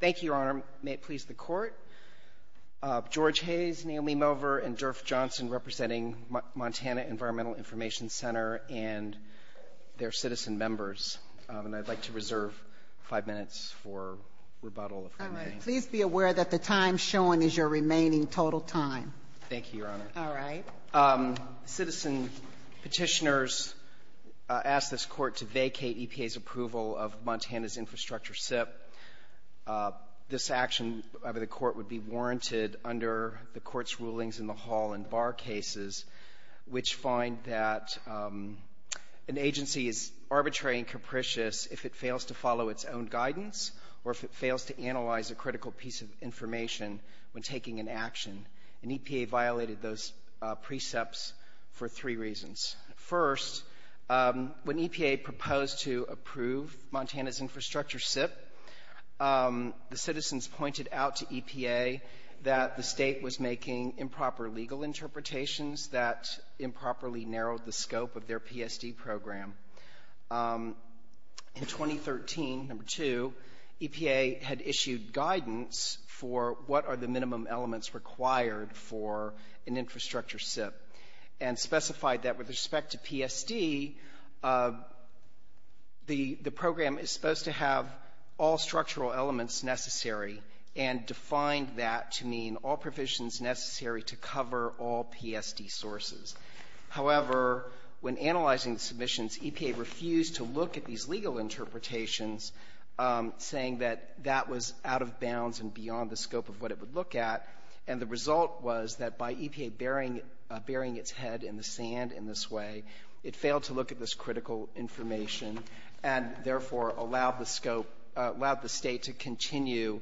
Thank you, Your Honor. May it please the Court, George Hayes, Naomi Mover, and Durf Johnson, representing Montana Environmental Information Center and their citizen members, and I'd like to reserve five minutes for rebuttal. All right. Please be aware that the time shown is your remaining total time. Thank you, Your Honor. All right. Citizen petitioners asked this Court to vacate EPA's approval of Montana's infrastructure SIP. This action by the Court would be warranted under the Court's rulings in the Hall and Bar cases, which find that an agency is arbitrary and capricious if it fails to follow its own guidance or if it fails to analyze a critical piece of information when taking an action. And EPA violated those precepts for three reasons. First, when EPA proposed to approve Montana's infrastructure SIP, the citizens pointed out to EPA that the state was making improper legal interpretations that improperly narrowed the scope of their PSD program. In 2013, number two, EPA had issued guidance for what are the minimum elements required for an infrastructure SIP and specified that with respect to PSD, the program is supposed to have all structural elements necessary and defined that to mean all provisions necessary to cover all PSD sources. However, when analyzing the submissions, EPA refused to look at these legal interpretations, saying that that was out of bounds and beyond the scope of what it would look at. And the result was that by EPA burying its head in the sand in this way, it failed to look at this critical information and, therefore, allowed the scope to continue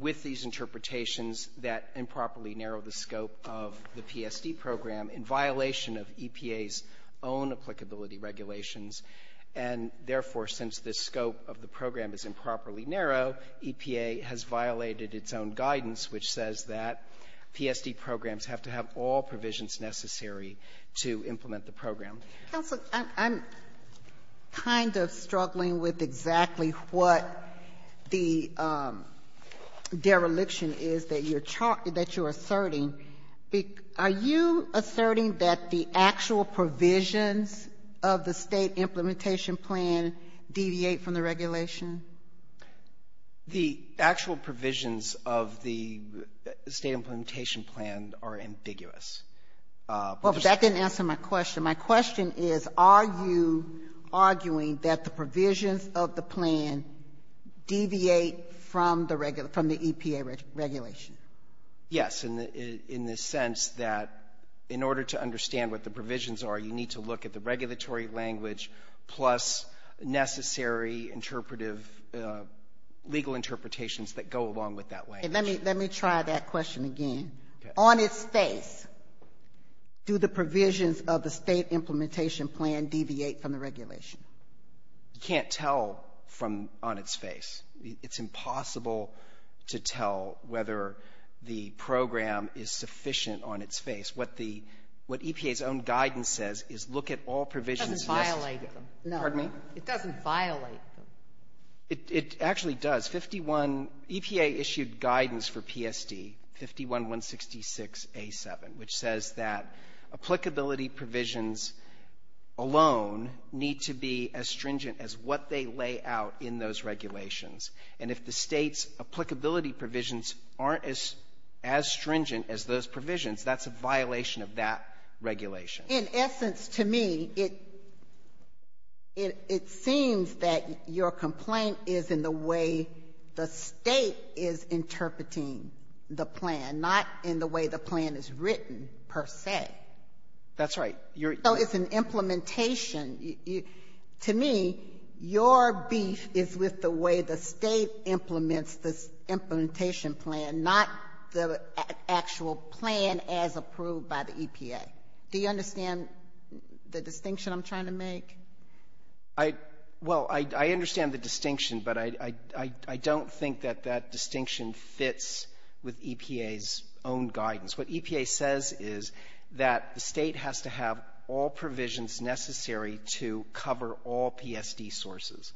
with these interpretations that improperly narrow the scope of the PSD program in violation of EPA's own applicability regulations. And, therefore, since the scope of the program is improperly narrow, EPA has violated its own guidance, which says that PSD programs have to have all provisions necessary to implement the program. Sotomayor, I'm kind of struggling with exactly what the dereliction is that you're talking to, that you're asserting. Are you asserting that the actual provisions of the State Implementation Plan deviate from the regulation? The actual provisions of the State Implementation Plan are ambiguous. Well, but that didn't answer my question. My question is, are you arguing that the provisions of the plan deviate from the EPA regulation? Yes, in the sense that in order to understand what the provisions are, you need to look at the regulatory language plus necessary interpretive legal interpretations that go along with that language. Let me try that question again. On its face, do the provisions of the State Implementation Plan deviate from the regulation? You can't tell from on its face. It's impossible to tell whether the program is sufficient on its face. What the EPA's own guidance says is look at all provisions. It doesn't violate them. Pardon me? It doesn't violate them. It actually does. EPA issued guidance for PSD 51-166A7, which says that applicability provisions alone need to be as stringent as what they lay out in those regulations. And if the State's applicability provisions aren't as stringent as those provisions, that's a violation of that regulation. In essence, to me, it seems that your complaint is in the way the State is interpreting the plan, not in the way the plan is written per se. That's right. So it's an implementation. To me, your beef is with the way the State implements this implementation plan, not the actual plan as approved by the EPA. Do you understand the distinction I'm trying to make? I — well, I understand the distinction, but I don't think that that distinction fits with EPA's own guidance. What EPA says is that the State has to have all provisions necessary to cover all PSD sources.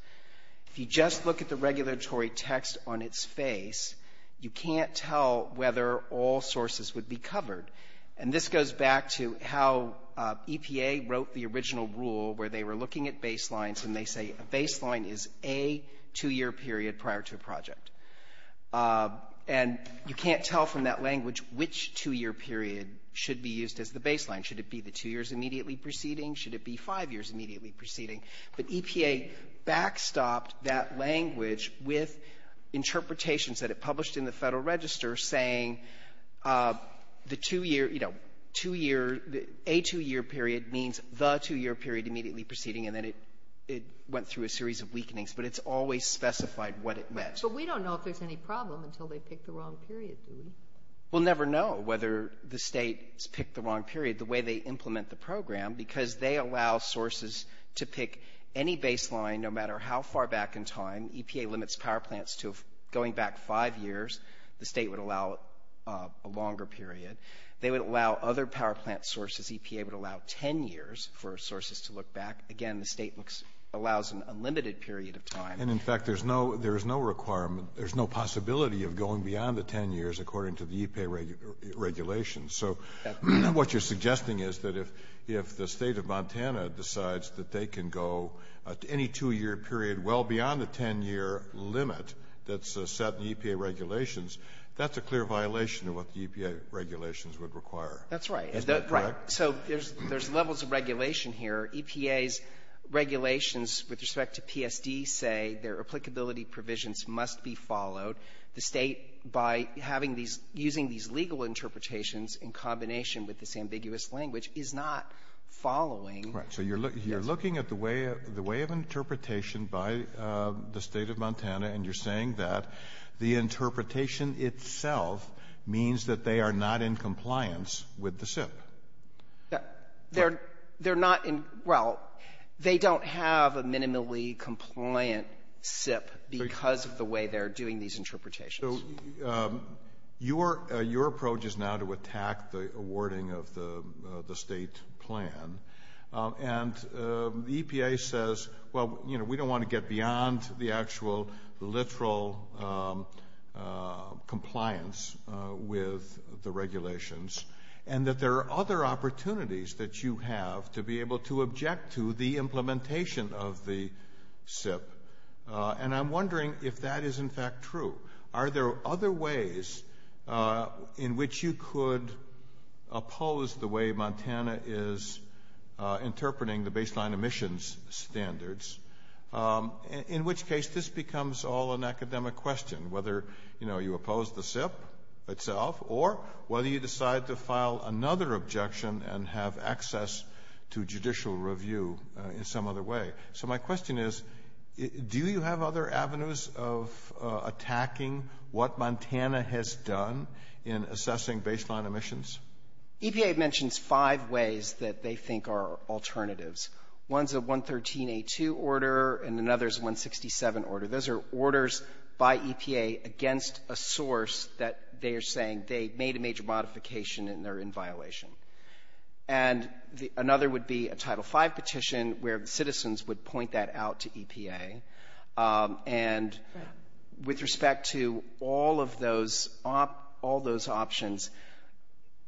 If you just look at the regulatory text on its face, you can't tell whether all sources would be covered. And this goes back to how EPA wrote the original rule where they were looking at baselines, and they say a baseline is a two-year period prior to a project. And you can't tell from that language which two-year period should be used as the baseline. Should it be the two years immediately preceding? Should it be five years immediately preceding? But EPA backstopped that language with interpretations that it published in the Federal Register saying the two-year, you know, two-year — a two-year period means the two-year period immediately preceding, and then it went through a series of weakenings. But it's always specified what it meant. But we don't know if there's any problem until they pick the wrong period, do we? We'll never know whether the State has picked the wrong period, the way they implement the program, because they allow sources to pick any baseline, no matter how far back in time. EPA limits power plants to going back five years. The State would allow a longer period. They would allow other power plant sources. EPA would allow ten years for sources to look back. Again, the State allows an unlimited period of time. And, in fact, there's no — there is no requirement — there's no possibility of going beyond the ten years according to the EPA regulations. So what you're suggesting is that if the State of Montana decides that they can go any two-year period well beyond the ten-year limit that's set in the EPA regulations, that's a clear violation of what the EPA regulations would require. That's right. Isn't that correct? So there's levels of regulation here. EPA's regulations with respect to PSD say their applicability provisions must be followed. The State, by having these — using these legal interpretations in combination with this ambiguous language, is not following. Right. So you're looking at the way — the way of interpretation by the State of Montana, and you're saying that the interpretation itself means that they are not in compliance with the SIP. They're not in — well, they don't have a minimally compliant SIP because of the way they're doing these interpretations. So your approach is now to attack the awarding of the State plan. And the EPA says, well, you know, we don't want to get beyond the actual literal compliance with the regulations, and that there are other opportunities that you have to be able to object to the implementation of the SIP. And I'm wondering if that is, in fact, true. Are there other ways in which you could oppose the way Montana is interpreting the baseline emissions standards? In which case, this becomes all an academic question, whether, you know, you oppose the SIP itself or whether you decide to file another objection and have access to judicial review in some other way. So my question is, do you have other avenues of attacking what Montana has done in assessing baseline emissions? EPA mentions five ways that they think are alternatives. One is a 113A2 order, and another is a 167 order. Those are orders by EPA against a source that they are saying they made a major modification and they're in violation. And another would be a Title V petition where the citizens would point that out to EPA. And with respect to all of those options,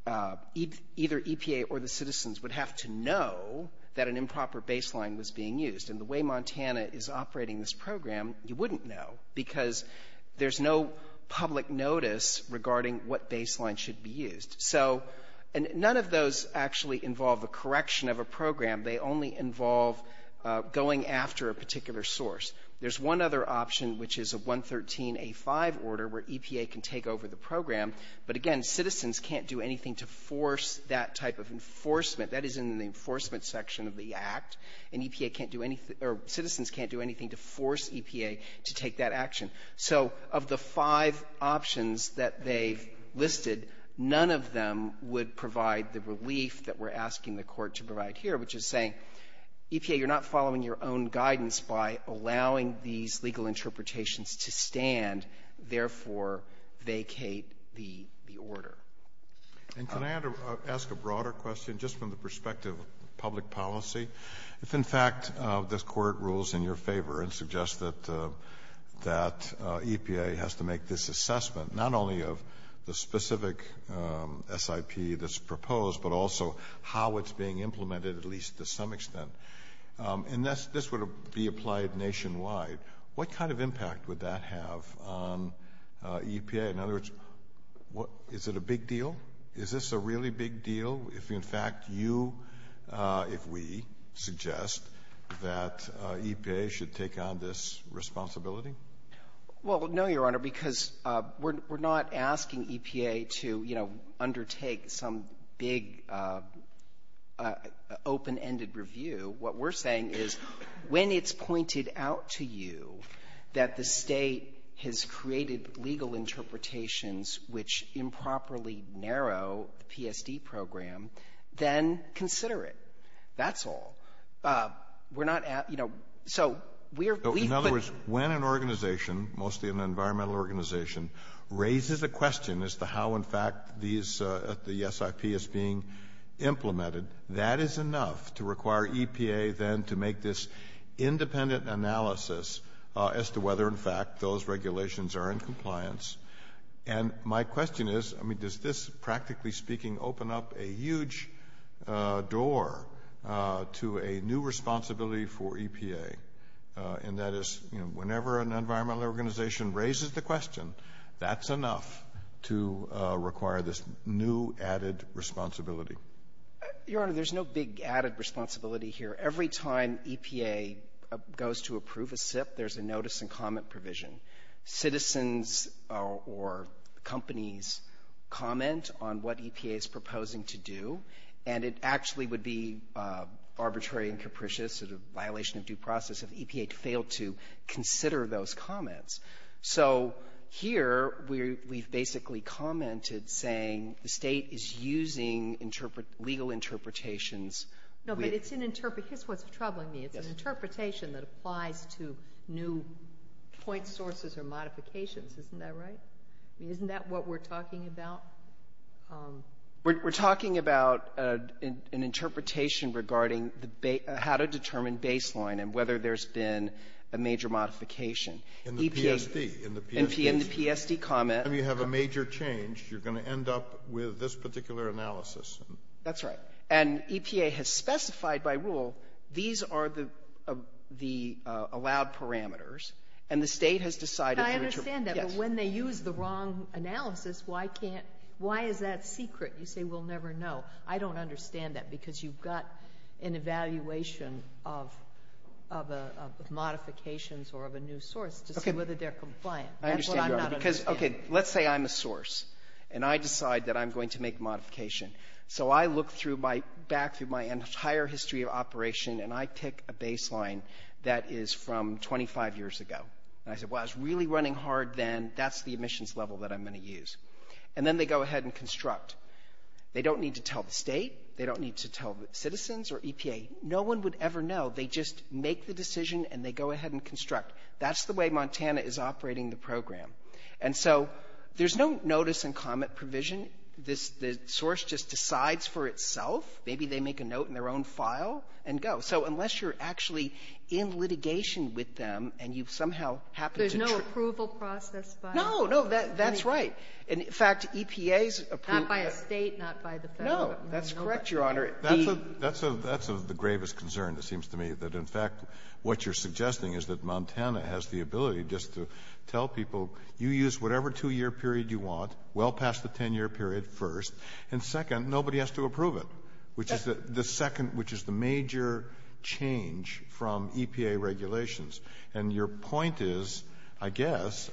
either EPA or the citizens would have to know that an improper baseline was being used. And the way Montana is operating this program, you wouldn't know, because there's no public notice regarding what baseline should be used. So none of those actually involve the correction of a program. They only involve going after a particular source. There's one other option, which is a 113A5 order, where EPA can take over the program. But again, citizens can't do anything to force that action. So of the five options that they've listed, none of them would provide the relief that we're asking the Court to provide here, which is saying, EPA, you're not following your own guidance by allowing these legal interpretations to stand, therefore vacate the order. Kennedy. And can I ask a broader question, just from the perspective of public policy? If in fact this Court rules in your favor and suggests that EPA has to make this assessment, not only of the specific SIP that's proposed, but also how it's being implemented, at least to some extent, and this would be applied nationwide, what kind of impact would that have on EPA? In other words, is it a big deal? Is it a big deal that we suggest that EPA should take on this responsibility? Well, no, Your Honor, because we're not asking EPA to, you know, undertake some big open-ended review. What we're saying is when it's pointed out to you that the State has created legal interpretations which improperly narrow the PSD program, then consider it. That's all. We're not, you know, so we're we've put In other words, when an organization, mostly an environmental organization, raises a question as to how, in fact, these the SIP is being implemented, that is enough to require EPA then to make this independent analysis as to whether, in fact, those regulations are in compliance. And my question is, I mean, does this, practically speaking, open up a huge door to a new responsibility for EPA? And that is, you know, whenever an environmental organization raises the question, that's enough to require this new added responsibility. Your Honor, there's no big added responsibility here. Every time EPA goes to approve a SIP, there's a notice and comment provision. Citizens or companies comment on what EPA is proposing to do, and it actually would be arbitrary and capricious, sort of a violation of due process, if EPA failed to consider those comments. So here, we've basically commented saying the State is using legal interpretations. No, but it's an interpretation. Here's what's troubling me. It's an interpretation that applies to new point sources or modifications. Isn't that right? I mean, isn't that what we're talking about? We're talking about an interpretation regarding how to determine baseline and whether there's been a major modification. In the PSD. In the PSD comment. Every time you have a major change, you're going to end up with this particular analysis. That's right. And EPA has specified by rule, these are the allowed parameters, and the State has decided to interpret. I understand that, but when they use the wrong analysis, why is that secret? You say we'll never know. I don't understand that, because you've got an evaluation of modifications or of a new source to see whether they're compliant. Let's say I'm a source, and I decide that I'm going to make a modification. So I look back through my entire history of operation, and I pick a baseline that is from 25 years ago. And I say, well, I was really running hard then. That's the emissions level that I'm going to use. And then they go ahead and construct. They don't need to tell the State. They don't need to tell citizens or EPA. No one would ever know. They just make the decision, and they go ahead and construct. That's the way Montana is operating the program. And so there's no notice and comment provision. This source just decides for itself. Maybe they make a note in their own file and go. So unless you're actually in litigation with them, and you've somehow happened to try to ---- There's no approval process by ---- No. No. That's right. And, in fact, EPA's approval ---- Not by a State, not by the Federal government. No. That's correct, Your Honor. The ---- That's the gravest concern, it seems to me, that, in fact, what you're suggesting is that Montana has the ability just to tell people, you use whatever two-year period you want, well past the 10-year period first, and, second, nobody has to approve it, which is the major change from EPA regulations. And your point is, I guess,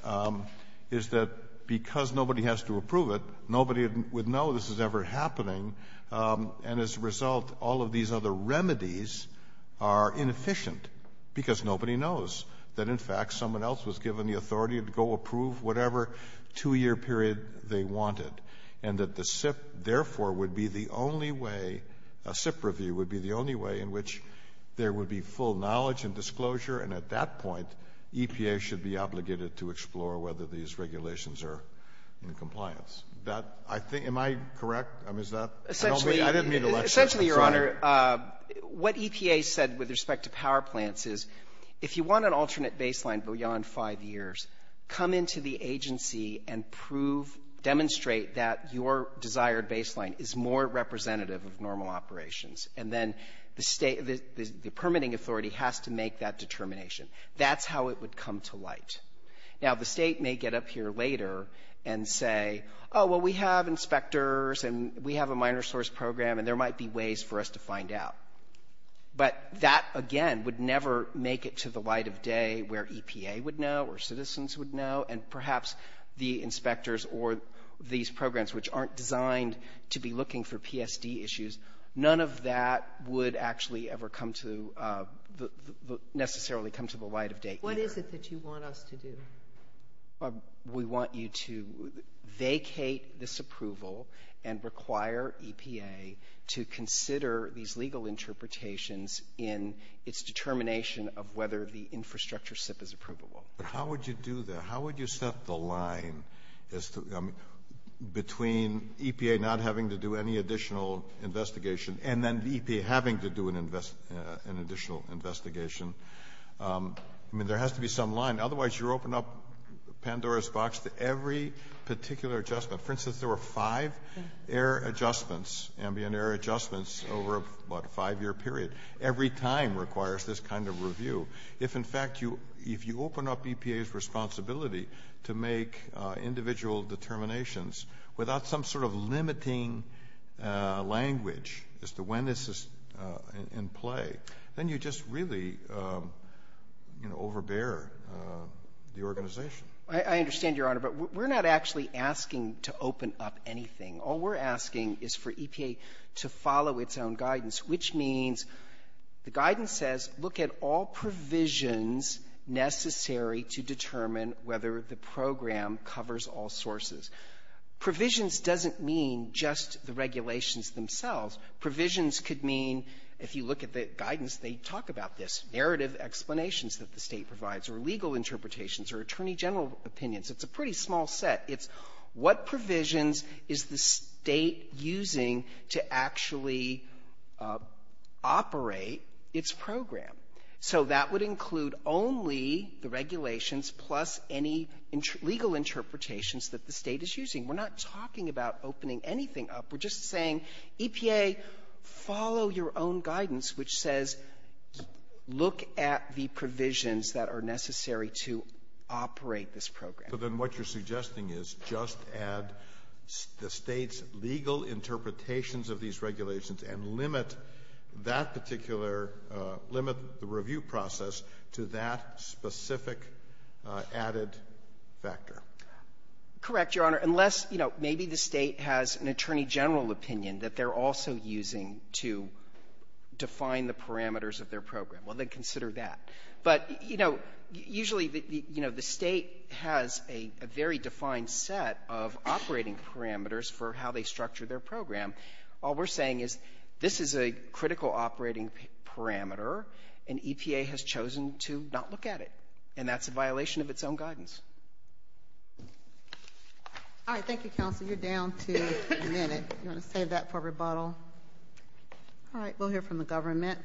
is that because nobody has to approve it, nobody would know this is ever happening, and as a result, all of these other remedies are inefficient, because nobody knows that, in fact, someone else was given the authority to go approve whatever two-year period they wanted, and that the SIP, therefore, would be the only way, a SIP review would be the only way in which there would be full knowledge and disclosure, and at that point, EPA should be obligated to explore whether these Essentially, Your Honor, what EPA said with respect to power plants is, if you want an alternate baseline beyond five years, come into the agency and prove, demonstrate that your desired baseline is more representative of normal operations. And then the State, the permitting authority has to make that determination. That's how it would come to light. Now, the State may get up here later and say, oh, well, we have inspectors, and we have a minor source program, and there might be ways for us to find out. But that, again, would never make it to the light of day where EPA would know or citizens would know, and perhaps the inspectors or these programs, which aren't designed to be looking for PSD issues, none of that would actually ever come to necessarily come to the light of day. What is it that you want us to do? We want you to vacate this approval and require EPA to consider these legal interpretations in its determination of whether the infrastructure SIP is approvable. But how would you do that? How would you set the line between EPA not having to do any additional investigation and then EPA having to do an additional investigation? I mean, there has to be some line. Otherwise, you open up Pandora's box to every particular adjustment. For instance, there were five air adjustments, ambient air adjustments, over a five-year period. Every time requires this kind of review. If, in fact, you open up EPA's responsibility to make individual determinations without some sort of limiting language as to when this is in play, then you just really, you know, overbear the organization. I understand, Your Honor, but we're not actually asking to open up anything. All we're asking is for EPA to follow its own guidance, which means the guidance says look at all provisions necessary to determine whether the program covers all sources. Provisions doesn't mean just the regulations themselves. Provisions could mean, if you look at the guidance, they talk about this, narrative explanations that the State provides or legal interpretations or attorney general opinions. It's a pretty small set. It's what provisions is the State using to actually operate its program. So that would include only the regulations plus any legal interpretations that the State is using. We're not talking about opening anything up. We're just saying, EPA, follow your own guidance, which says look at the provisions that are necessary to operate this program. So then what you're suggesting is just add the State's legal interpretations of these regulations and limit that particular, limit the review process to that specific added factor. Correct, Your Honor, unless, you know, maybe the State has an attorney general opinion that they're also using to define the parameters of their program. Well, then consider that. But, you know, usually, you know, the State has a very defined set of operating parameters for how they structure their program. All we're saying is this is a critical operating parameter, and EPA has chosen to not look at it, and that's a violation of its own guidance. All right. Thank you, counsel. You're down to a minute. You want to save that for rebuttal? All right. We'll hear from the government.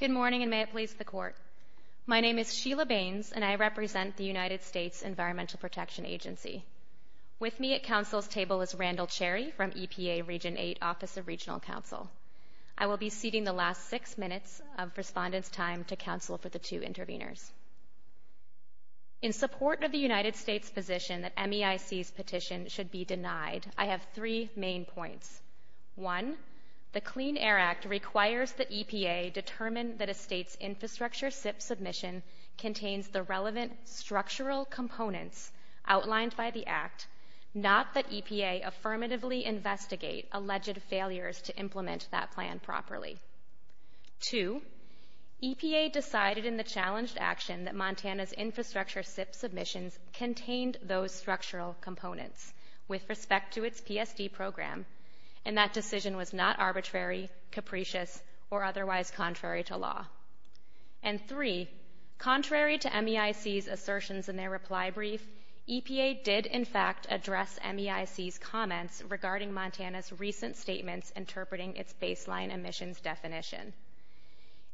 Good morning, and may it please the Court. My name is Sheila Baines, and I represent the United States Environmental Protection Agency. With me at counsel's table is Randall Cherry from EPA Region 8 Office of Regional Counsel. I will be ceding the last six minutes of respondents' time to counsel for the two interveners. In support of the United States' position that MEIC's petition should be denied, I have three main points. One, the Clean Air Act requires that EPA determine that a State's infrastructure SIP submission contains the relevant structural components outlined by the Act, not that EPA affirmatively investigate alleged failures to implement that plan properly. Two, EPA decided in the challenged action that Montana's infrastructure SIP submissions contained those structural components with respect to its PSD program, and that decision was not arbitrary, capricious, or otherwise contrary to law. And three, contrary to MEIC's assertions in their reply brief, EPA did, in fact, address MEIC's comments regarding Montana's recent statements interpreting its baseline emissions definition.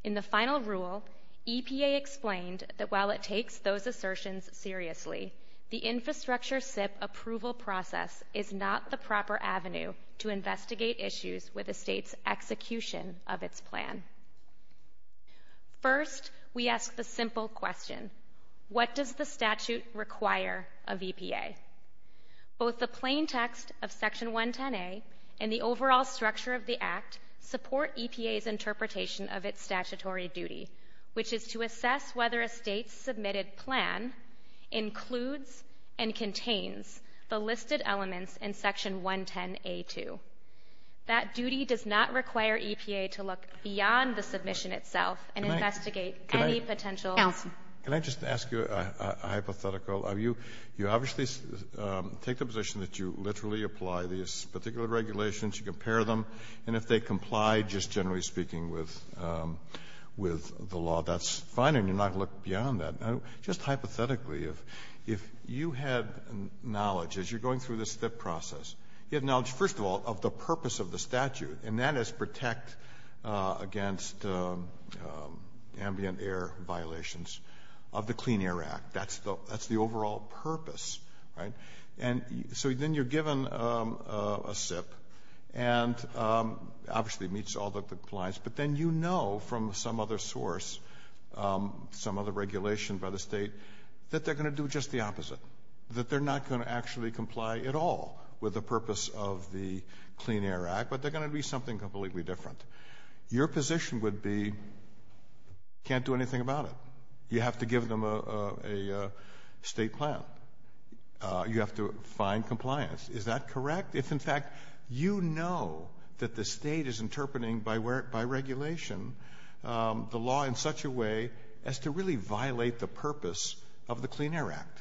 In the final rule, EPA explained that while it takes those assertions seriously, the infrastructure SIP approval process is not the proper avenue to investigate issues with a State's execution of its plan. First, we ask the simple question, what does the statute require of EPA? Both the plain text of Section 110A and the overall structure of the Act support EPA's interpretation of its statutory duty, which is to assess whether a State's submitted plan includes and contains the listed elements in Section 110A2. That duty does not require EPA to look beyond the submission itself and investigate any potential ---- Kagan. Kagan. Elson. Elson. Can I just ask you a hypothetical? You obviously take the position that you literally apply these particular regulations, you compare them, and if they comply, just generally speaking, with the law, that's fine, and you're not going to look beyond that. Just hypothetically, if you had knowledge, as you're going through this SIP process, you had knowledge, first of all, of the purpose of the statute, and that is protect against ambient air violations of the Clean Air Act. That's the overall purpose, right? So then you're given a SIP, and obviously it meets all the compliance, but then you know from some other source, some other regulation by the State, that they're going to do just the opposite, that they're not going to actually comply at all with the purpose of the Clean Air Act, but they're going to be something completely different. Your position would be, can't do anything about it. You have to give them a State plan. You have to find compliance. Is that correct? If, in fact, you know that the State is interpreting, by regulation, the law in such a way as to really violate the purpose of the Clean Air Act.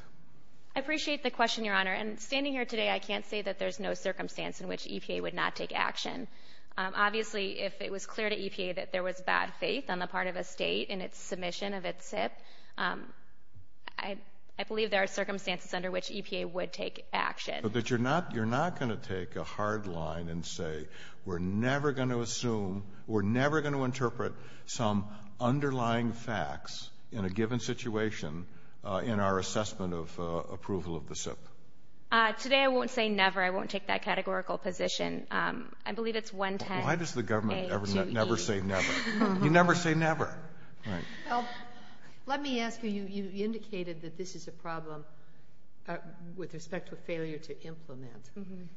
I appreciate the question, Your Honor, and standing here today, I can't say that there's no circumstance in which EPA would not take action. Obviously, if it was clear to EPA that there was bad faith on the part of a State in its circumstances under which EPA would take action. But that you're not going to take a hard line and say, we're never going to assume, we're never going to interpret some underlying facts in a given situation in our assessment of approval of the SIP? Today, I won't say never. I won't take that categorical position. I believe it's 110A to E. Why does the government never say never? You never say never. Let me ask you, you indicated that this is a problem with respect to failure to implement.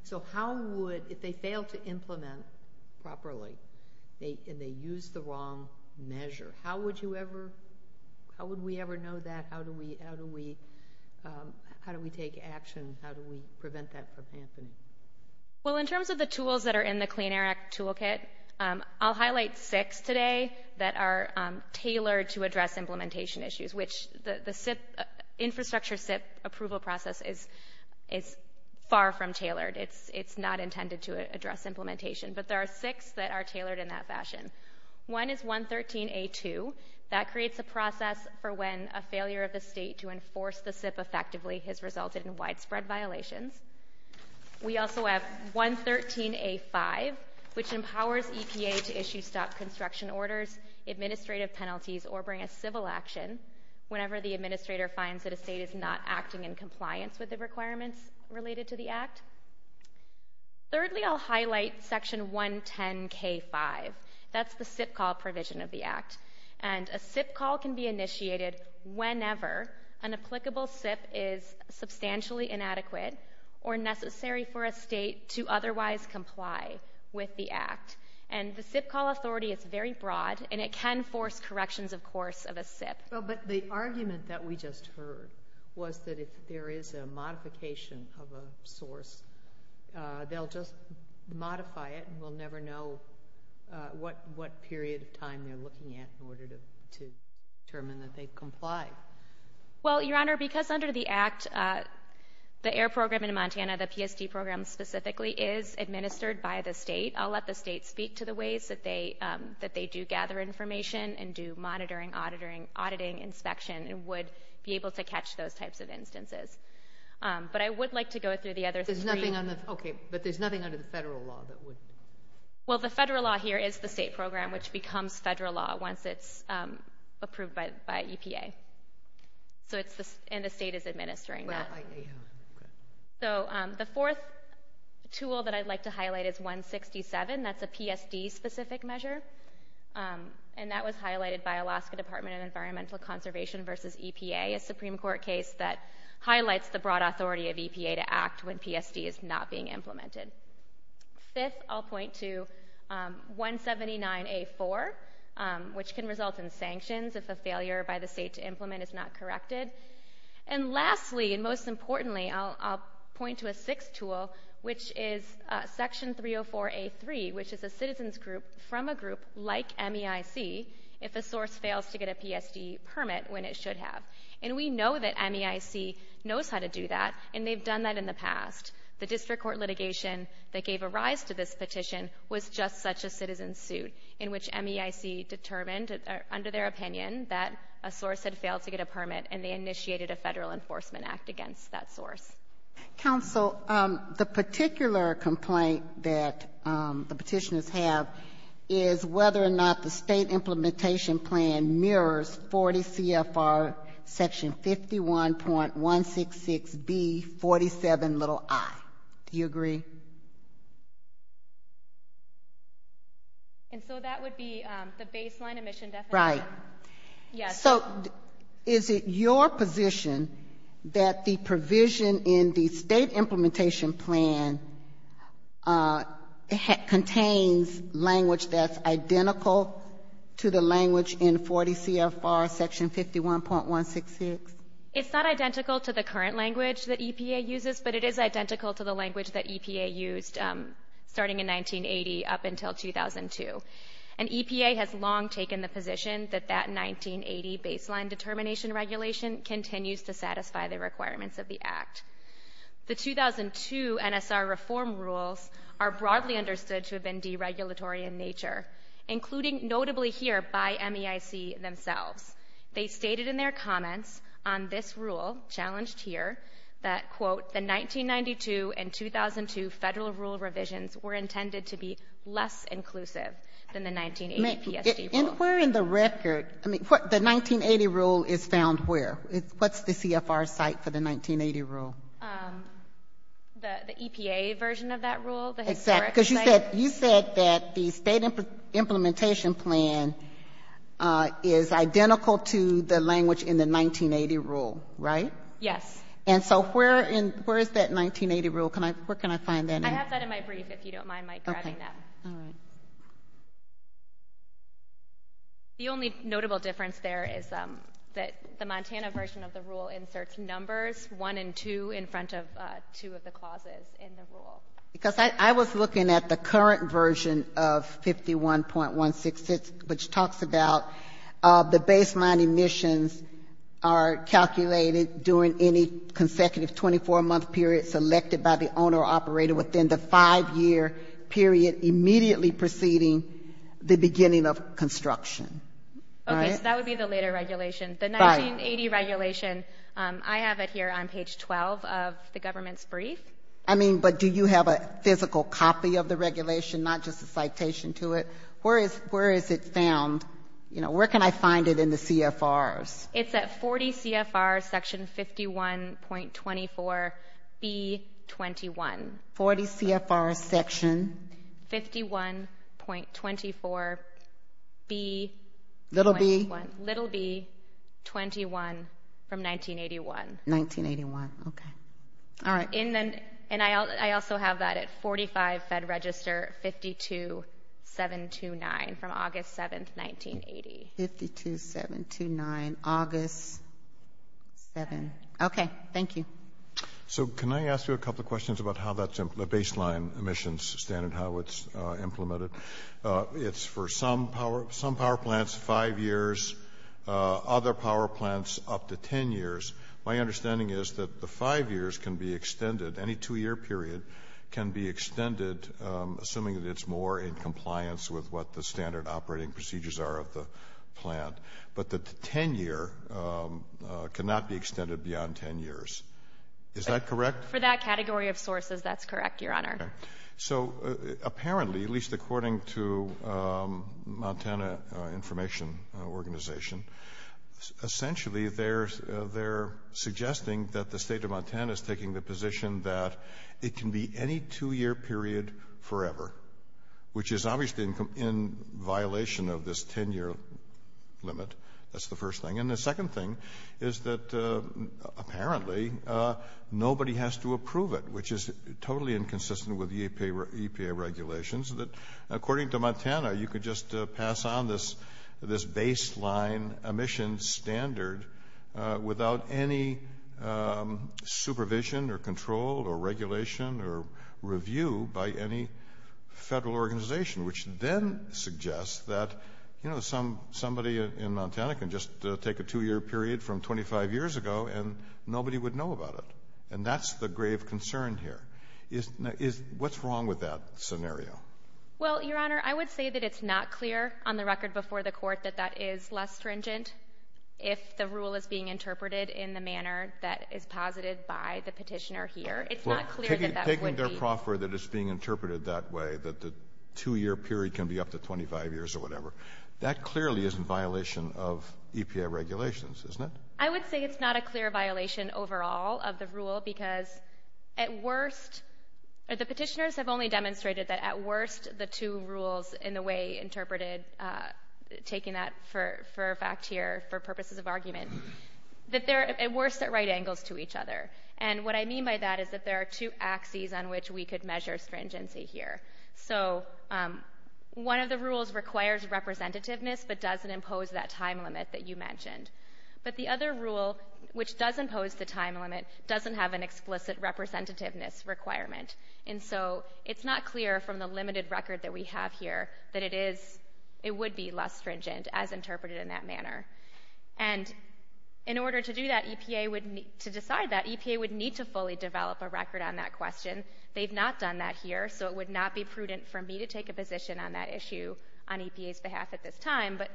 So how would, if they fail to implement properly, and they use the wrong measure, how would you ever, how would we ever know that? How do we take action? How do we prevent that from happening? Well, in terms of the tools that are in the Clean Air Act toolkit, I'll highlight six today that are tailored to address implementation issues, which the SIP, infrastructure SIP approval process is far from tailored. It's not intended to address implementation. But there are six that are tailored in that fashion. One is 113A2. That creates a process for when a failure of the State to enforce the SIP effectively has resulted in widespread violations. We also have 113A5, which empowers EPA to issue stop construction orders, administrative penalties, or bring a civil action whenever the administrator finds that a State is not acting in compliance with the requirements related to the Act. Thirdly, I'll highlight Section 110K5. That's the SIP call provision of the Act. And a SIP call can be initiated whenever an applicable SIP is substantially inadequate or necessary for a State to otherwise comply with the Act. And the SIP call authority is very broad, and it can force corrections, of course, of a SIP. Well, but the argument that we just heard was that if there is a modification of a source, they'll just modify it and we'll never know what period of time they're looking at in order to determine that they comply. Well, Your Honor, because under the Act, the AIR program in Montana, the PSD program specifically, is administered by the State. I'll let the State speak to the ways that they do gather information and do monitoring, auditing, inspection, and would be able to catch those types of instances. But I would like to go through the other three. Okay, but there's nothing under the Federal law that would... Well, the Federal law here is the State program, which becomes Federal law once it's approved by EPA. And the State is administering that. So the fourth tool that I'd like to highlight is 167. That's a PSD-specific measure. And that was highlighted by Alaska Department of Environmental Conservation versus EPA, a Supreme Court case that highlights the broad authority of EPA to act when PSD is not being implemented. Fifth, I'll point to 179A4, which can result in sanctions if a failure by the State to implement is not corrected. And lastly, and most importantly, I'll point to a sixth tool, which is Section 304A3, which is a citizen's group from a group like MEIC if a source fails to get a PSD permit when it should have. And we know that MEIC knows how to do that, and they've done that in the past. The district court litigation that gave a rise to this petition was just such a citizen's suit in which MEIC determined under their opinion that a source had failed to get a permit, and they initiated a Federal Enforcement Act against that source. Counsel, the particular complaint that the petitioners have is whether or not the State implementation plan mirrors 40 CFR Section 51.166B47i. Do you agree? And so that would be the baseline emission definition? Right. Yes. So is it your position that the provision in the State implementation plan contains language that's identical to the language in 40 CFR Section 51.166? It's not identical to the current language that EPA uses, but it is identical to the language that EPA used starting in 1980 up until 2002. And EPA has long taken the position that that 1980 baseline determination regulation continues to satisfy the requirements of the Act. The 2002 NSR reform rules are broadly understood to have been deregulatory in nature, including notably here by MEIC themselves. They stated in their comments on this rule challenged here that, quote, the 1992 and 2002 Federal rule revisions were intended to be less inclusive than the 1980 PSD rule. And where in the record, I mean, the 1980 rule is found where? What's the CFR site for the 1980 rule? The EPA version of that rule? Exactly. Because you said that the State implementation plan is identical to the language in the 1980 rule, right? Yes. And so where is that 1980 rule? Where can I find that? I have that in my brief, if you don't mind my grabbing that. Okay. All right. Thank you. The only notable difference there is that the Montana version of the rule inserts numbers, one and two, in front of two of the clauses in the rule. Because I was looking at the current version of 51.166, which talks about the baseline emissions are calculated during any consecutive 24-month period selected by the owner or operator within the five-year period immediately preceding the beginning of construction. Okay. So that would be the later regulation. The 1980 regulation, I have it here on page 12 of the government's brief. I mean, but do you have a physical copy of the regulation, not just a citation to it? Where is it found? You know, where can I find it in the CFRs? It's at 40 CFR section 51.24B21. 40 CFR section? 51.24B21. Little B? Little B21 from 1981. 1981. Okay. All right. And I also have that at 45 Fed Register 52729 from August 7th, 1980. 52729, August 7th. Okay. Thank you. So can I ask you a couple of questions about how that's a baseline emissions standard, how it's implemented? It's for some power plants five years, other power plants up to ten years. My understanding is that the five years can be extended, any two-year period can be extended, assuming that it's more in compliance with what the standard operating procedures are of the plant. But the ten-year cannot be extended beyond ten years. Is that correct? For that category of sources, that's correct, Your Honor. Okay. So apparently, at least according to Montana Information Organization, essentially they're suggesting that the State of Montana is taking the position that it can be any two-year period forever, which is obviously in violation of this ten-year limit. That's the first thing. And the second thing is that apparently nobody has to approve it, which is totally inconsistent with the EPA regulations. According to Montana, you could just pass on this baseline emissions standard without any supervision or control or regulation or review by any federal organization, which then suggests that somebody in Montana can just take a two-year period from 25 years ago and nobody would know about it. And that's the grave concern here. What's wrong with that scenario? Well, Your Honor, I would say that it's not clear on the record before the Court that that is less stringent if the rule is being interpreted in the manner that is posited by the petitioner here. It's not clear that that would be. Well, taking their proffer that it's being interpreted that way, that the two-year period can be up to 25 years or whatever, that clearly is in violation of EPA regulations, isn't it? I would say it's not a clear violation overall of the rule because at worst the petitioners have only demonstrated that at worst the two rules in the way interpreted, taking that for fact here for purposes of argument, that they're at worst at right angles to each other. And what I mean by that is that there are two axes on which we could measure stringency here. So one of the rules requires representativeness but doesn't impose that time limit that you mentioned. But the other rule, which does impose the time limit, doesn't have an explicit representativeness requirement. And so it's not clear from the limited record that we have here that it would be less stringent as interpreted in that manner. And in order to do that, EPA would need to decide that. EPA would need to fully develop a record on that question. They've not done that here, so it would not be prudent for me to take a position on that issue on EPA's behalf at this time. But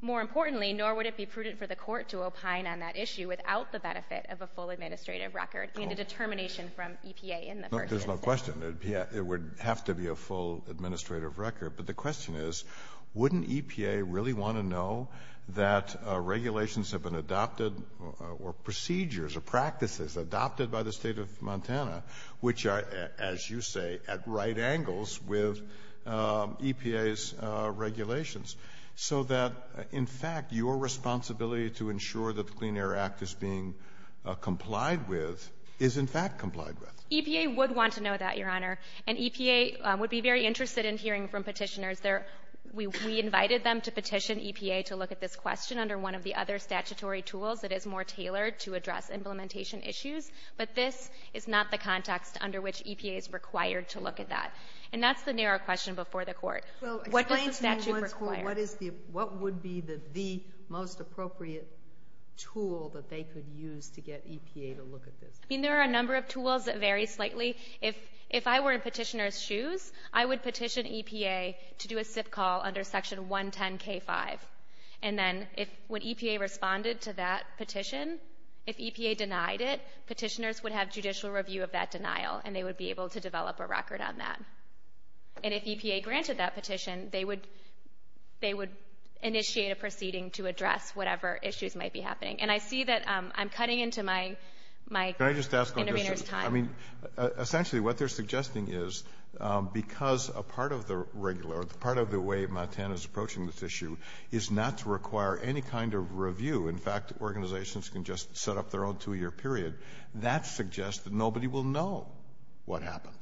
more importantly, nor would it be prudent for the Court to opine on that issue without the benefit of a full administrative record and a determination from EPA in the first instance. Kennedy. There's no question. It would have to be a full administrative record. But the question is, wouldn't EPA really want to know that regulations have been adopted or procedures or practices adopted by the State of Montana, which are, as you say, at right angles with EPA's regulations, so that, in fact, your responsibility to ensure that the Clean Air Act is being complied with is, in fact, complied with? EPA would want to know that, Your Honor. And EPA would be very interested in hearing from Petitioners. We invited them to petition EPA to look at this question under one of the other statutory tools that is more tailored to address implementation issues. But this is not the context under which EPA is required to look at that. And that's the narrow question before the Court. What does the statute require? What would be the most appropriate tool that they could use to get EPA to look at this? I mean, there are a number of tools that vary slightly. If I were in Petitioners' shoes, I would petition EPA to do a SIP call under Section 110K5. And then when EPA responded to that petition, if EPA denied it, Petitioners would have judicial review of that denial, and they would be able to develop a record on that. And if EPA granted that petition, they would initiate a proceeding to address whatever issues might be happening. And I see that I'm cutting into my intervener's time. Can I just ask one question? I mean, essentially, what they're suggesting is because a part of the regular or the part of the way Montana is approaching this issue is not to require any kind of review. In fact, organizations can just set up their own two-year period. That suggests that nobody will know what happened.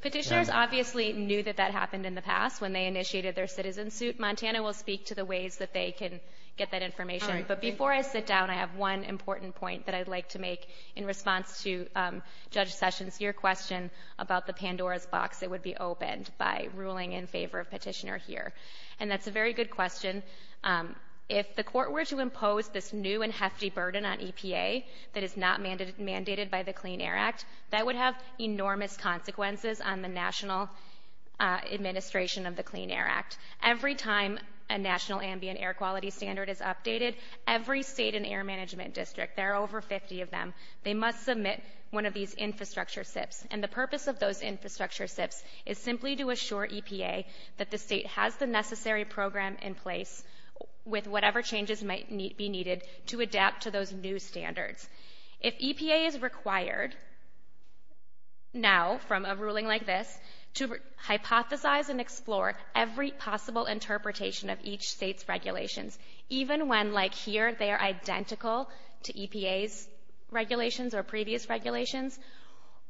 Petitioners obviously knew that that happened in the past when they initiated their citizen suit. Montana will speak to the ways that they can get that information. But before I sit down, I have one important point that I'd like to make in response to Judge Sessions, your question about the Pandora's box that would be opened by ruling in favor of Petitioner here. And that's a very good question. If the court were to impose this new and hefty burden on EPA that is not mandated by the Clean Air Act, that would have enormous consequences on the national administration of the Clean Air Act. Every time a national ambient air quality standard is updated, every state and air management district, there are over 50 of them, they must submit one of these infrastructure SIPs. And the purpose of those infrastructure SIPs is simply to assure EPA that the state has the necessary program in place with whatever changes might be needed to adapt to those new standards. If EPA is required now from a ruling like this to hypothesize and explore every possible interpretation of each state's regulations, even when, like here, they are identical to EPA's regulations or previous regulations,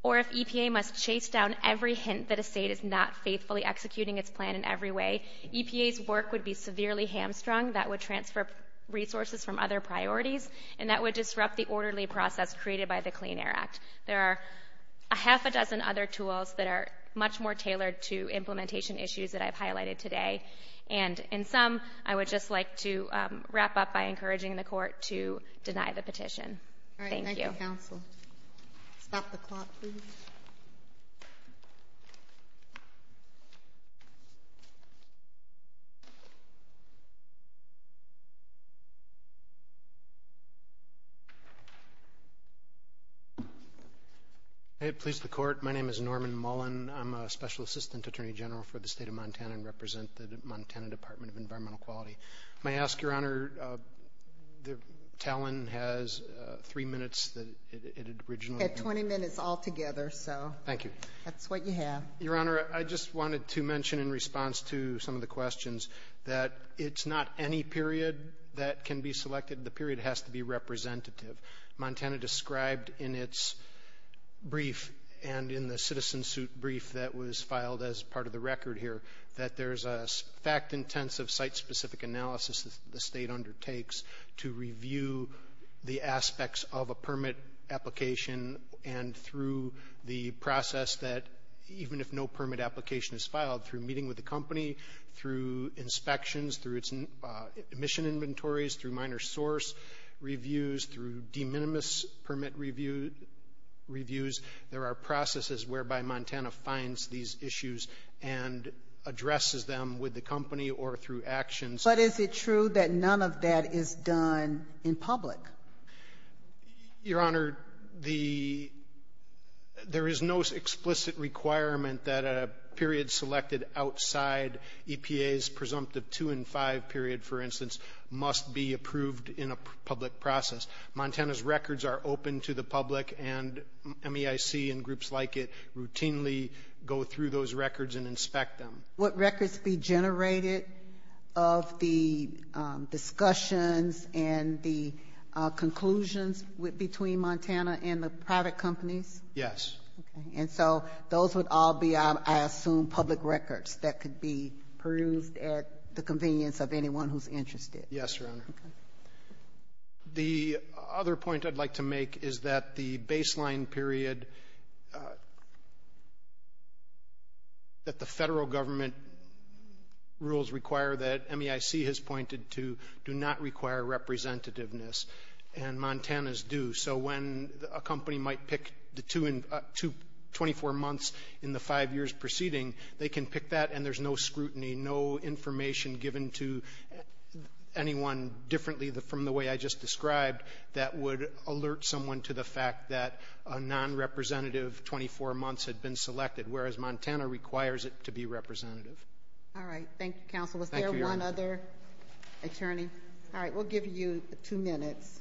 or if EPA must chase down every hint that a state is not faithfully executing its plan in every way, EPA's work would be severely hamstrung. That would transfer resources from other priorities, and that would disrupt the orderly process created by the Clean Air Act. There are a half a dozen other tools that are much more tailored to implementation issues that I've highlighted today. And in sum, I would just like to wrap up by encouraging the court to deny the petition. Thank you. Thank you, counsel. Stop the clock, please. May it please the court, my name is Norman Mullen. I'm a special assistant attorney general for the state of Montana and represent the Montana Department of Environmental Quality. May I ask, Your Honor, Talon has three minutes that it originally had. It had 20 minutes altogether, so. Thank you. That's what you have. Your Honor, I just wanted to mention in response to some of the questions that it's not any period that can be selected. The period has to be representative. Montana described in its brief and in the citizen suit brief that was filed as part of the record here that there's a fact-intensive site-specific analysis the state undertakes to review the aspects of a permit application and through the process that even if no permit application is filed, through meeting with the company, through inspections, through its emission inventories, through minor source reviews, through de minimis permit reviews, there are processes whereby Montana finds these issues and addresses them with the company or through actions. But is it true that none of that is done in public? Your Honor, there is no explicit requirement that a period selected outside EPA's presumptive 2 and 5 period, for instance, must be approved in a public process. Montana's records are open to the public, and MEIC and groups like it routinely go through those records and inspect them. Would records be generated of the discussions and the conclusions between Montana and the private companies? Yes. Okay. And so those would all be, I assume, public records that could be perused at the convenience of anyone who's interested. Yes, Your Honor. The other point I'd like to make is that the baseline period that the federal government rules require that MEIC has pointed to do not require representativeness, and Montana's do. So when a company might pick the 24 months in the five years preceding, they can pick that and there's no scrutiny, no information given to anyone differently from the way I just described that would alert someone to the fact that a non-representative 24 months had been selected, whereas Montana requires it to be representative. All right. Thank you, counsel. Thank you, Your Honor. Was there one other attorney? All right. We'll give you two minutes.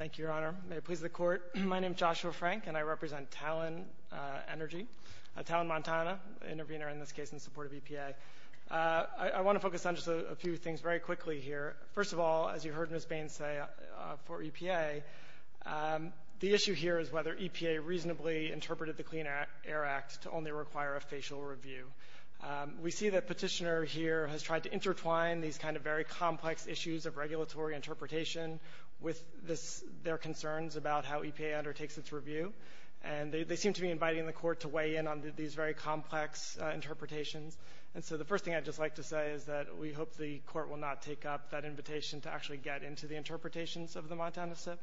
Thank you, Your Honor. May it please the Court. My name is Joshua Frank and I represent Talon Energy, Talon Montana, an intervener in this case in support of EPA. I want to focus on just a few things very quickly here. First of all, as you heard Ms. Bain say, for EPA, the issue here is whether EPA reasonably interpreted the Clean Air Act to only require a facial review. We see that Petitioner here has tried to intertwine these kind of very complex issues of regulatory interpretation with their concerns about how EPA undertakes its review, and they seem to be inviting the Court to weigh in on these very complex interpretations. And so the first thing I'd just like to say is that we hope the Court will not take up that invitation to actually get into the interpretations of the Montana SIP,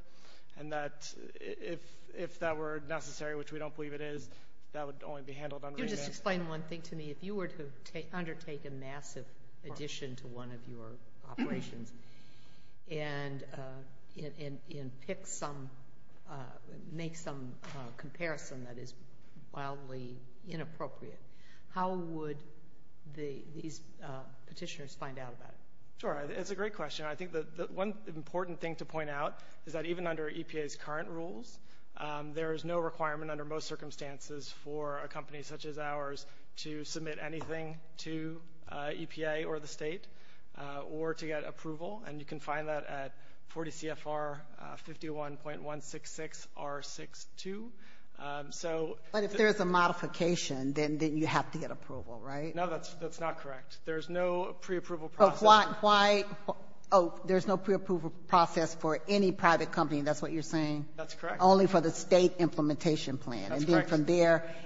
and that if that were necessary, which we don't believe it is, that would only be handled under EPA. Can you just explain one thing to me? If you were to undertake a massive addition to one of your operations and make some comparison that is wildly inappropriate, how would these petitioners find out about it? Sure. It's a great question. I think that one important thing to point out is that even under EPA's current rules, there is no requirement under most circumstances for a company such as ours to submit anything to EPA or the state or to get approval, and you can find that at 40 CFR 51.166R62. But if there's a modification, then you have to get approval, right? No, that's not correct. There's no preapproval process. Oh, there's no preapproval process for any private company, and that's what you're saying? That's correct. Only for the state implementation plan? That's correct.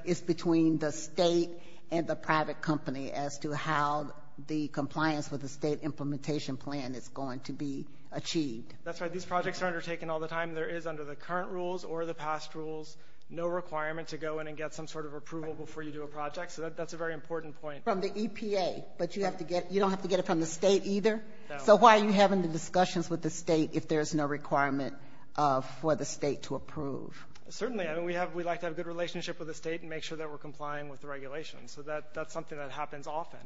It's between the state and the private company as to how the compliance with the state implementation plan is going to be achieved. That's right. These projects are undertaken all the time. There is, under the current rules or the past rules, no requirement to go in and get some sort of approval before you do a project. So that's a very important point. From the EPA, but you don't have to get it from the state either? No. So why are you having the discussions with the state if there's no requirement for the state to approve? Certainly. We like to have a good relationship with the state and make sure that we're complying with the regulations. So that's something that happens often.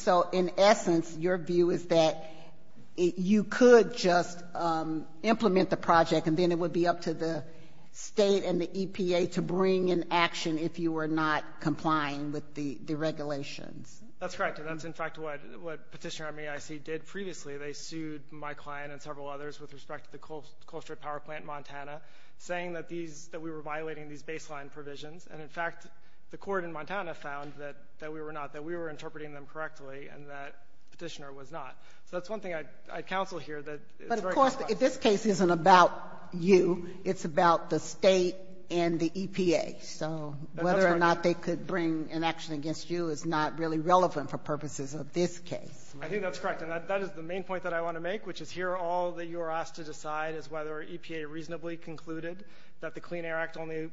So in essence, your view is that you could just implement the project and then it would be up to the state and the EPA to bring in action if you were not complying with the regulations? That's correct. And that's, in fact, what Petitioner Army IC did previously. that we were violating these baseline provisions. And, in fact, the court in Montana found that we were not, that we were interpreting them correctly and that Petitioner was not. So that's one thing I'd counsel here. But, of course, if this case isn't about you, it's about the state and the EPA. So whether or not they could bring an action against you is not really relevant for purposes of this case. I think that's correct. And that is the main point that I want to make, which is here all that you are asked to decide is whether EPA reasonably concluded that the Clean Air Act only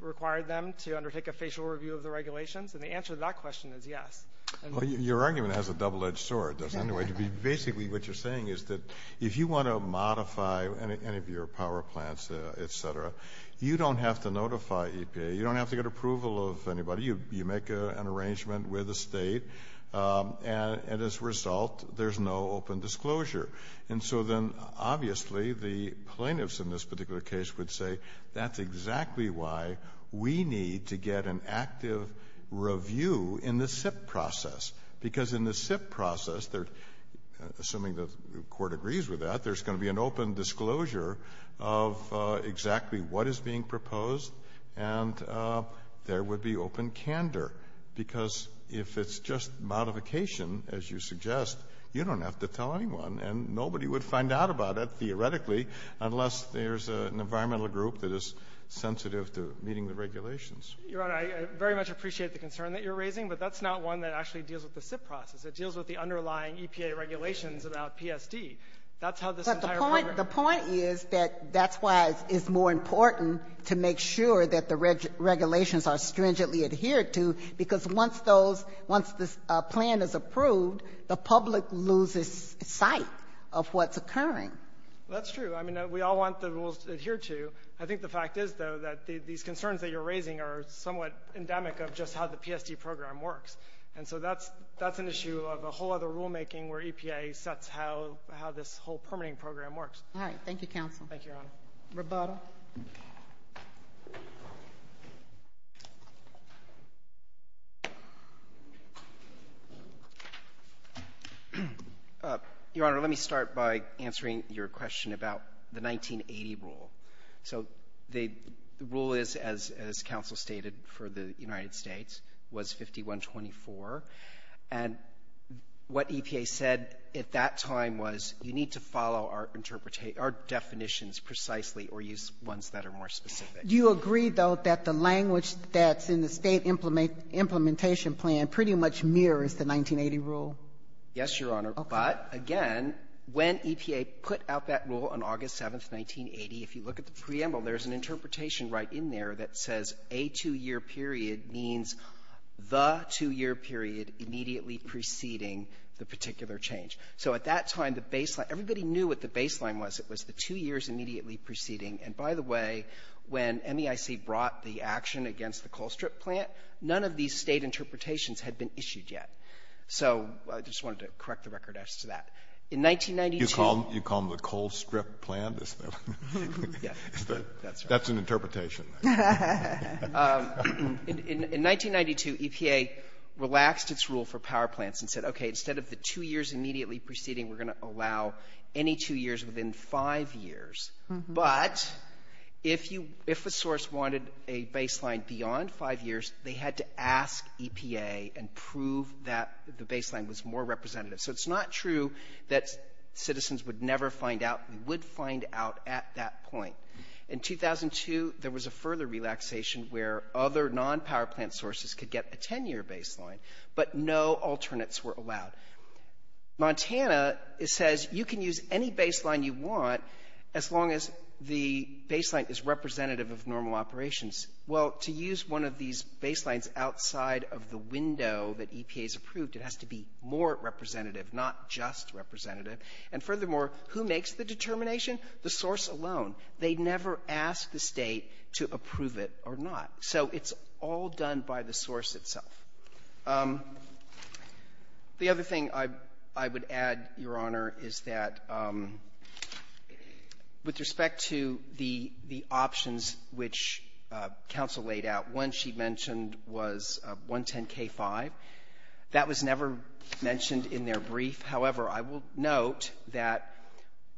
required them to undertake a facial review of the regulations. And the answer to that question is yes. Well, your argument has a double-edged sword, doesn't it? Basically what you're saying is that if you want to modify any of your power plants, et cetera, you don't have to notify EPA. You don't have to get approval of anybody. You make an arrangement with the State, and as a result, there's no open disclosure. And so then obviously the plaintiffs in this particular case would say that's exactly why we need to get an active review in the SIP process, because in the SIP process, assuming the Court agrees with that, there's going to be an open disclosure of exactly what is being proposed, and there would be open candor. Because if it's just modification, as you suggest, you don't have to tell anyone, and nobody would find out about it theoretically unless there's an environmental group that is sensitive to meeting the regulations. Your Honor, I very much appreciate the concern that you're raising, but that's not one that actually deals with the SIP process. It deals with the underlying EPA regulations about PSD. That's how this entire program works. But the point is that that's why it's more important to make sure that the regulations are stringently adhered to, because once those — once this plan is approved, the public loses sight of what's occurring. That's true. I mean, we all want the rules to adhere to. I think the fact is, though, that these concerns that you're raising are somewhat endemic of just how the PSD program works. And so that's — that's an issue of a whole other rulemaking where EPA sets how — how this whole permitting program works. All right. Thank you, counsel. Thank you, Your Honor. Roboto. Your Honor, let me start by answering your question about the 1980 rule. So the rule is, as counsel stated, for the United States, was 5124. And what EPA said at that time was, you need to follow our interpretation — our definitions precisely or use ones that are more specific. Do you agree, though, that the language that's in the State implementation plan pretty much mirrors the 1980 rule? Yes, Your Honor. Okay. But again, when EPA put out that rule on August 7th, 1980, if you look at the preamble, there's an interpretation right in there that says, a two-year period means the two-year period immediately preceding the particular change. So at that time, the baseline — everybody knew what the baseline was. It was the two years immediately preceding. And by the way, when MEIC brought the action against the coal strip plant, none of these State interpretations had been issued yet. So I just wanted to correct the record as to that. In 1992 — You call them the coal strip plan, is that — Yeah. That's right. That's an interpretation. In 1992, EPA relaxed its rule for power plants and said, okay, instead of the two years immediately preceding, we're going to allow any two years within five years. But if you — if a source wanted a baseline beyond five years, they had to ask EPA and prove that the baseline was more representative. So it's not true that citizens would never find out. We would find out at that point. In 2002, there was a further relaxation where other non-power plant sources could get a 10-year baseline, but no alternates were allowed. Montana says you can use any baseline you want as long as the baseline is representative of normal operations. Well, to use one of these baselines outside of the window that EPA has approved, it has to be more representative, not just representative. And furthermore, who makes the determination? The source alone. They never ask the State to approve it or not. So it's all done by the source itself. The other thing I would add, Your Honor, is that with respect to the options which counsel laid out, one she mentioned was 110k-5. That was never mentioned in their brief. However, I will note that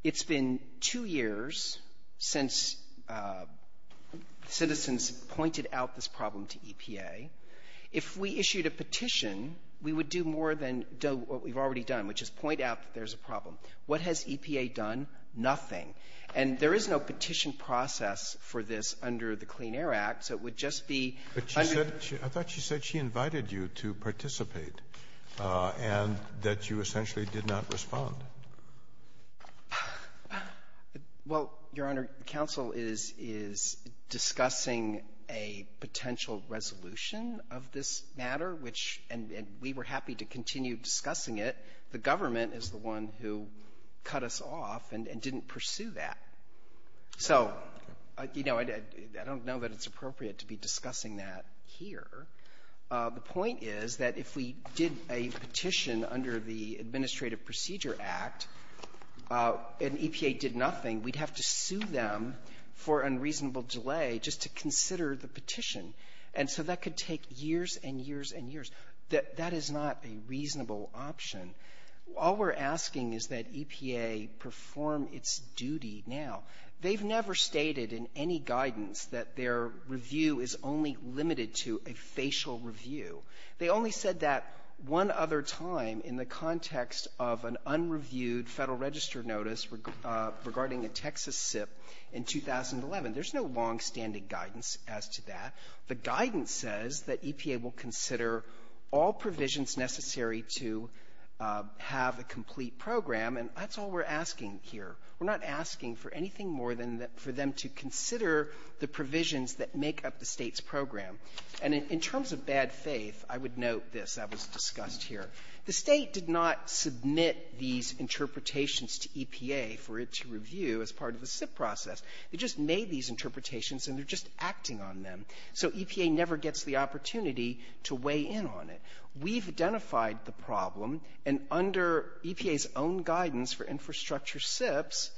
it's been two years since citizens pointed out this problem to EPA. If we issued a petition, we would do more than what we've already done, which is point out that there's a problem. What has EPA done? Nothing. And there is no petition process for this under the Clean Air Act, so it would just be under the ---- and that you essentially did not respond. Well, Your Honor, counsel is discussing a potential resolution of this matter, which we were happy to continue discussing it. The government is the one who cut us off and didn't pursue that. So, you know, I don't know that it's appropriate to be discussing that here. The point is that if we did a petition under the Administrative Procedure Act and EPA did nothing, we'd have to sue them for unreasonable delay just to consider the petition. And so that could take years and years and years. That is not a reasonable option. All we're asking is that EPA perform its duty now. They've never stated in any guidance that their review is only limited to a facial review. They only said that one other time in the context of an unreviewed Federal Register notice regarding a Texas SIP in 2011. There's no longstanding guidance as to that. The guidance says that EPA will consider all provisions necessary to have a complete program, and that's all we're asking here. We're not asking for anything more than for them to consider the provisions that make up the State's program. And in terms of bad faith, I would note this. That was discussed here. The State did not submit these interpretations to EPA for it to review as part of the SIP process. It just made these interpretations, and they're just acting on them. So EPA never gets the opportunity to weigh in on it. We've identified the problem, and under EPA's own guidance for infrastructure SIPs,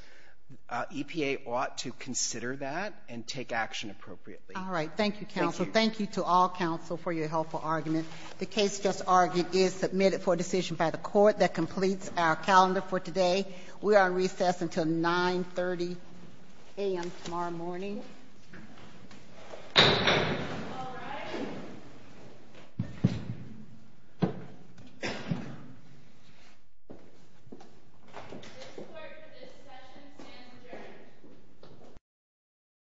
EPA ought to consider that and take action appropriately. Ginsburg. All right. Thank you, counsel. Thank you to all counsel for your helpful argument. The case just argued is submitted for decision by the Court. That completes our calendar for today. We are on recess until 9.30 a.m. tomorrow morning. All rise. This court for this session stands adjourned.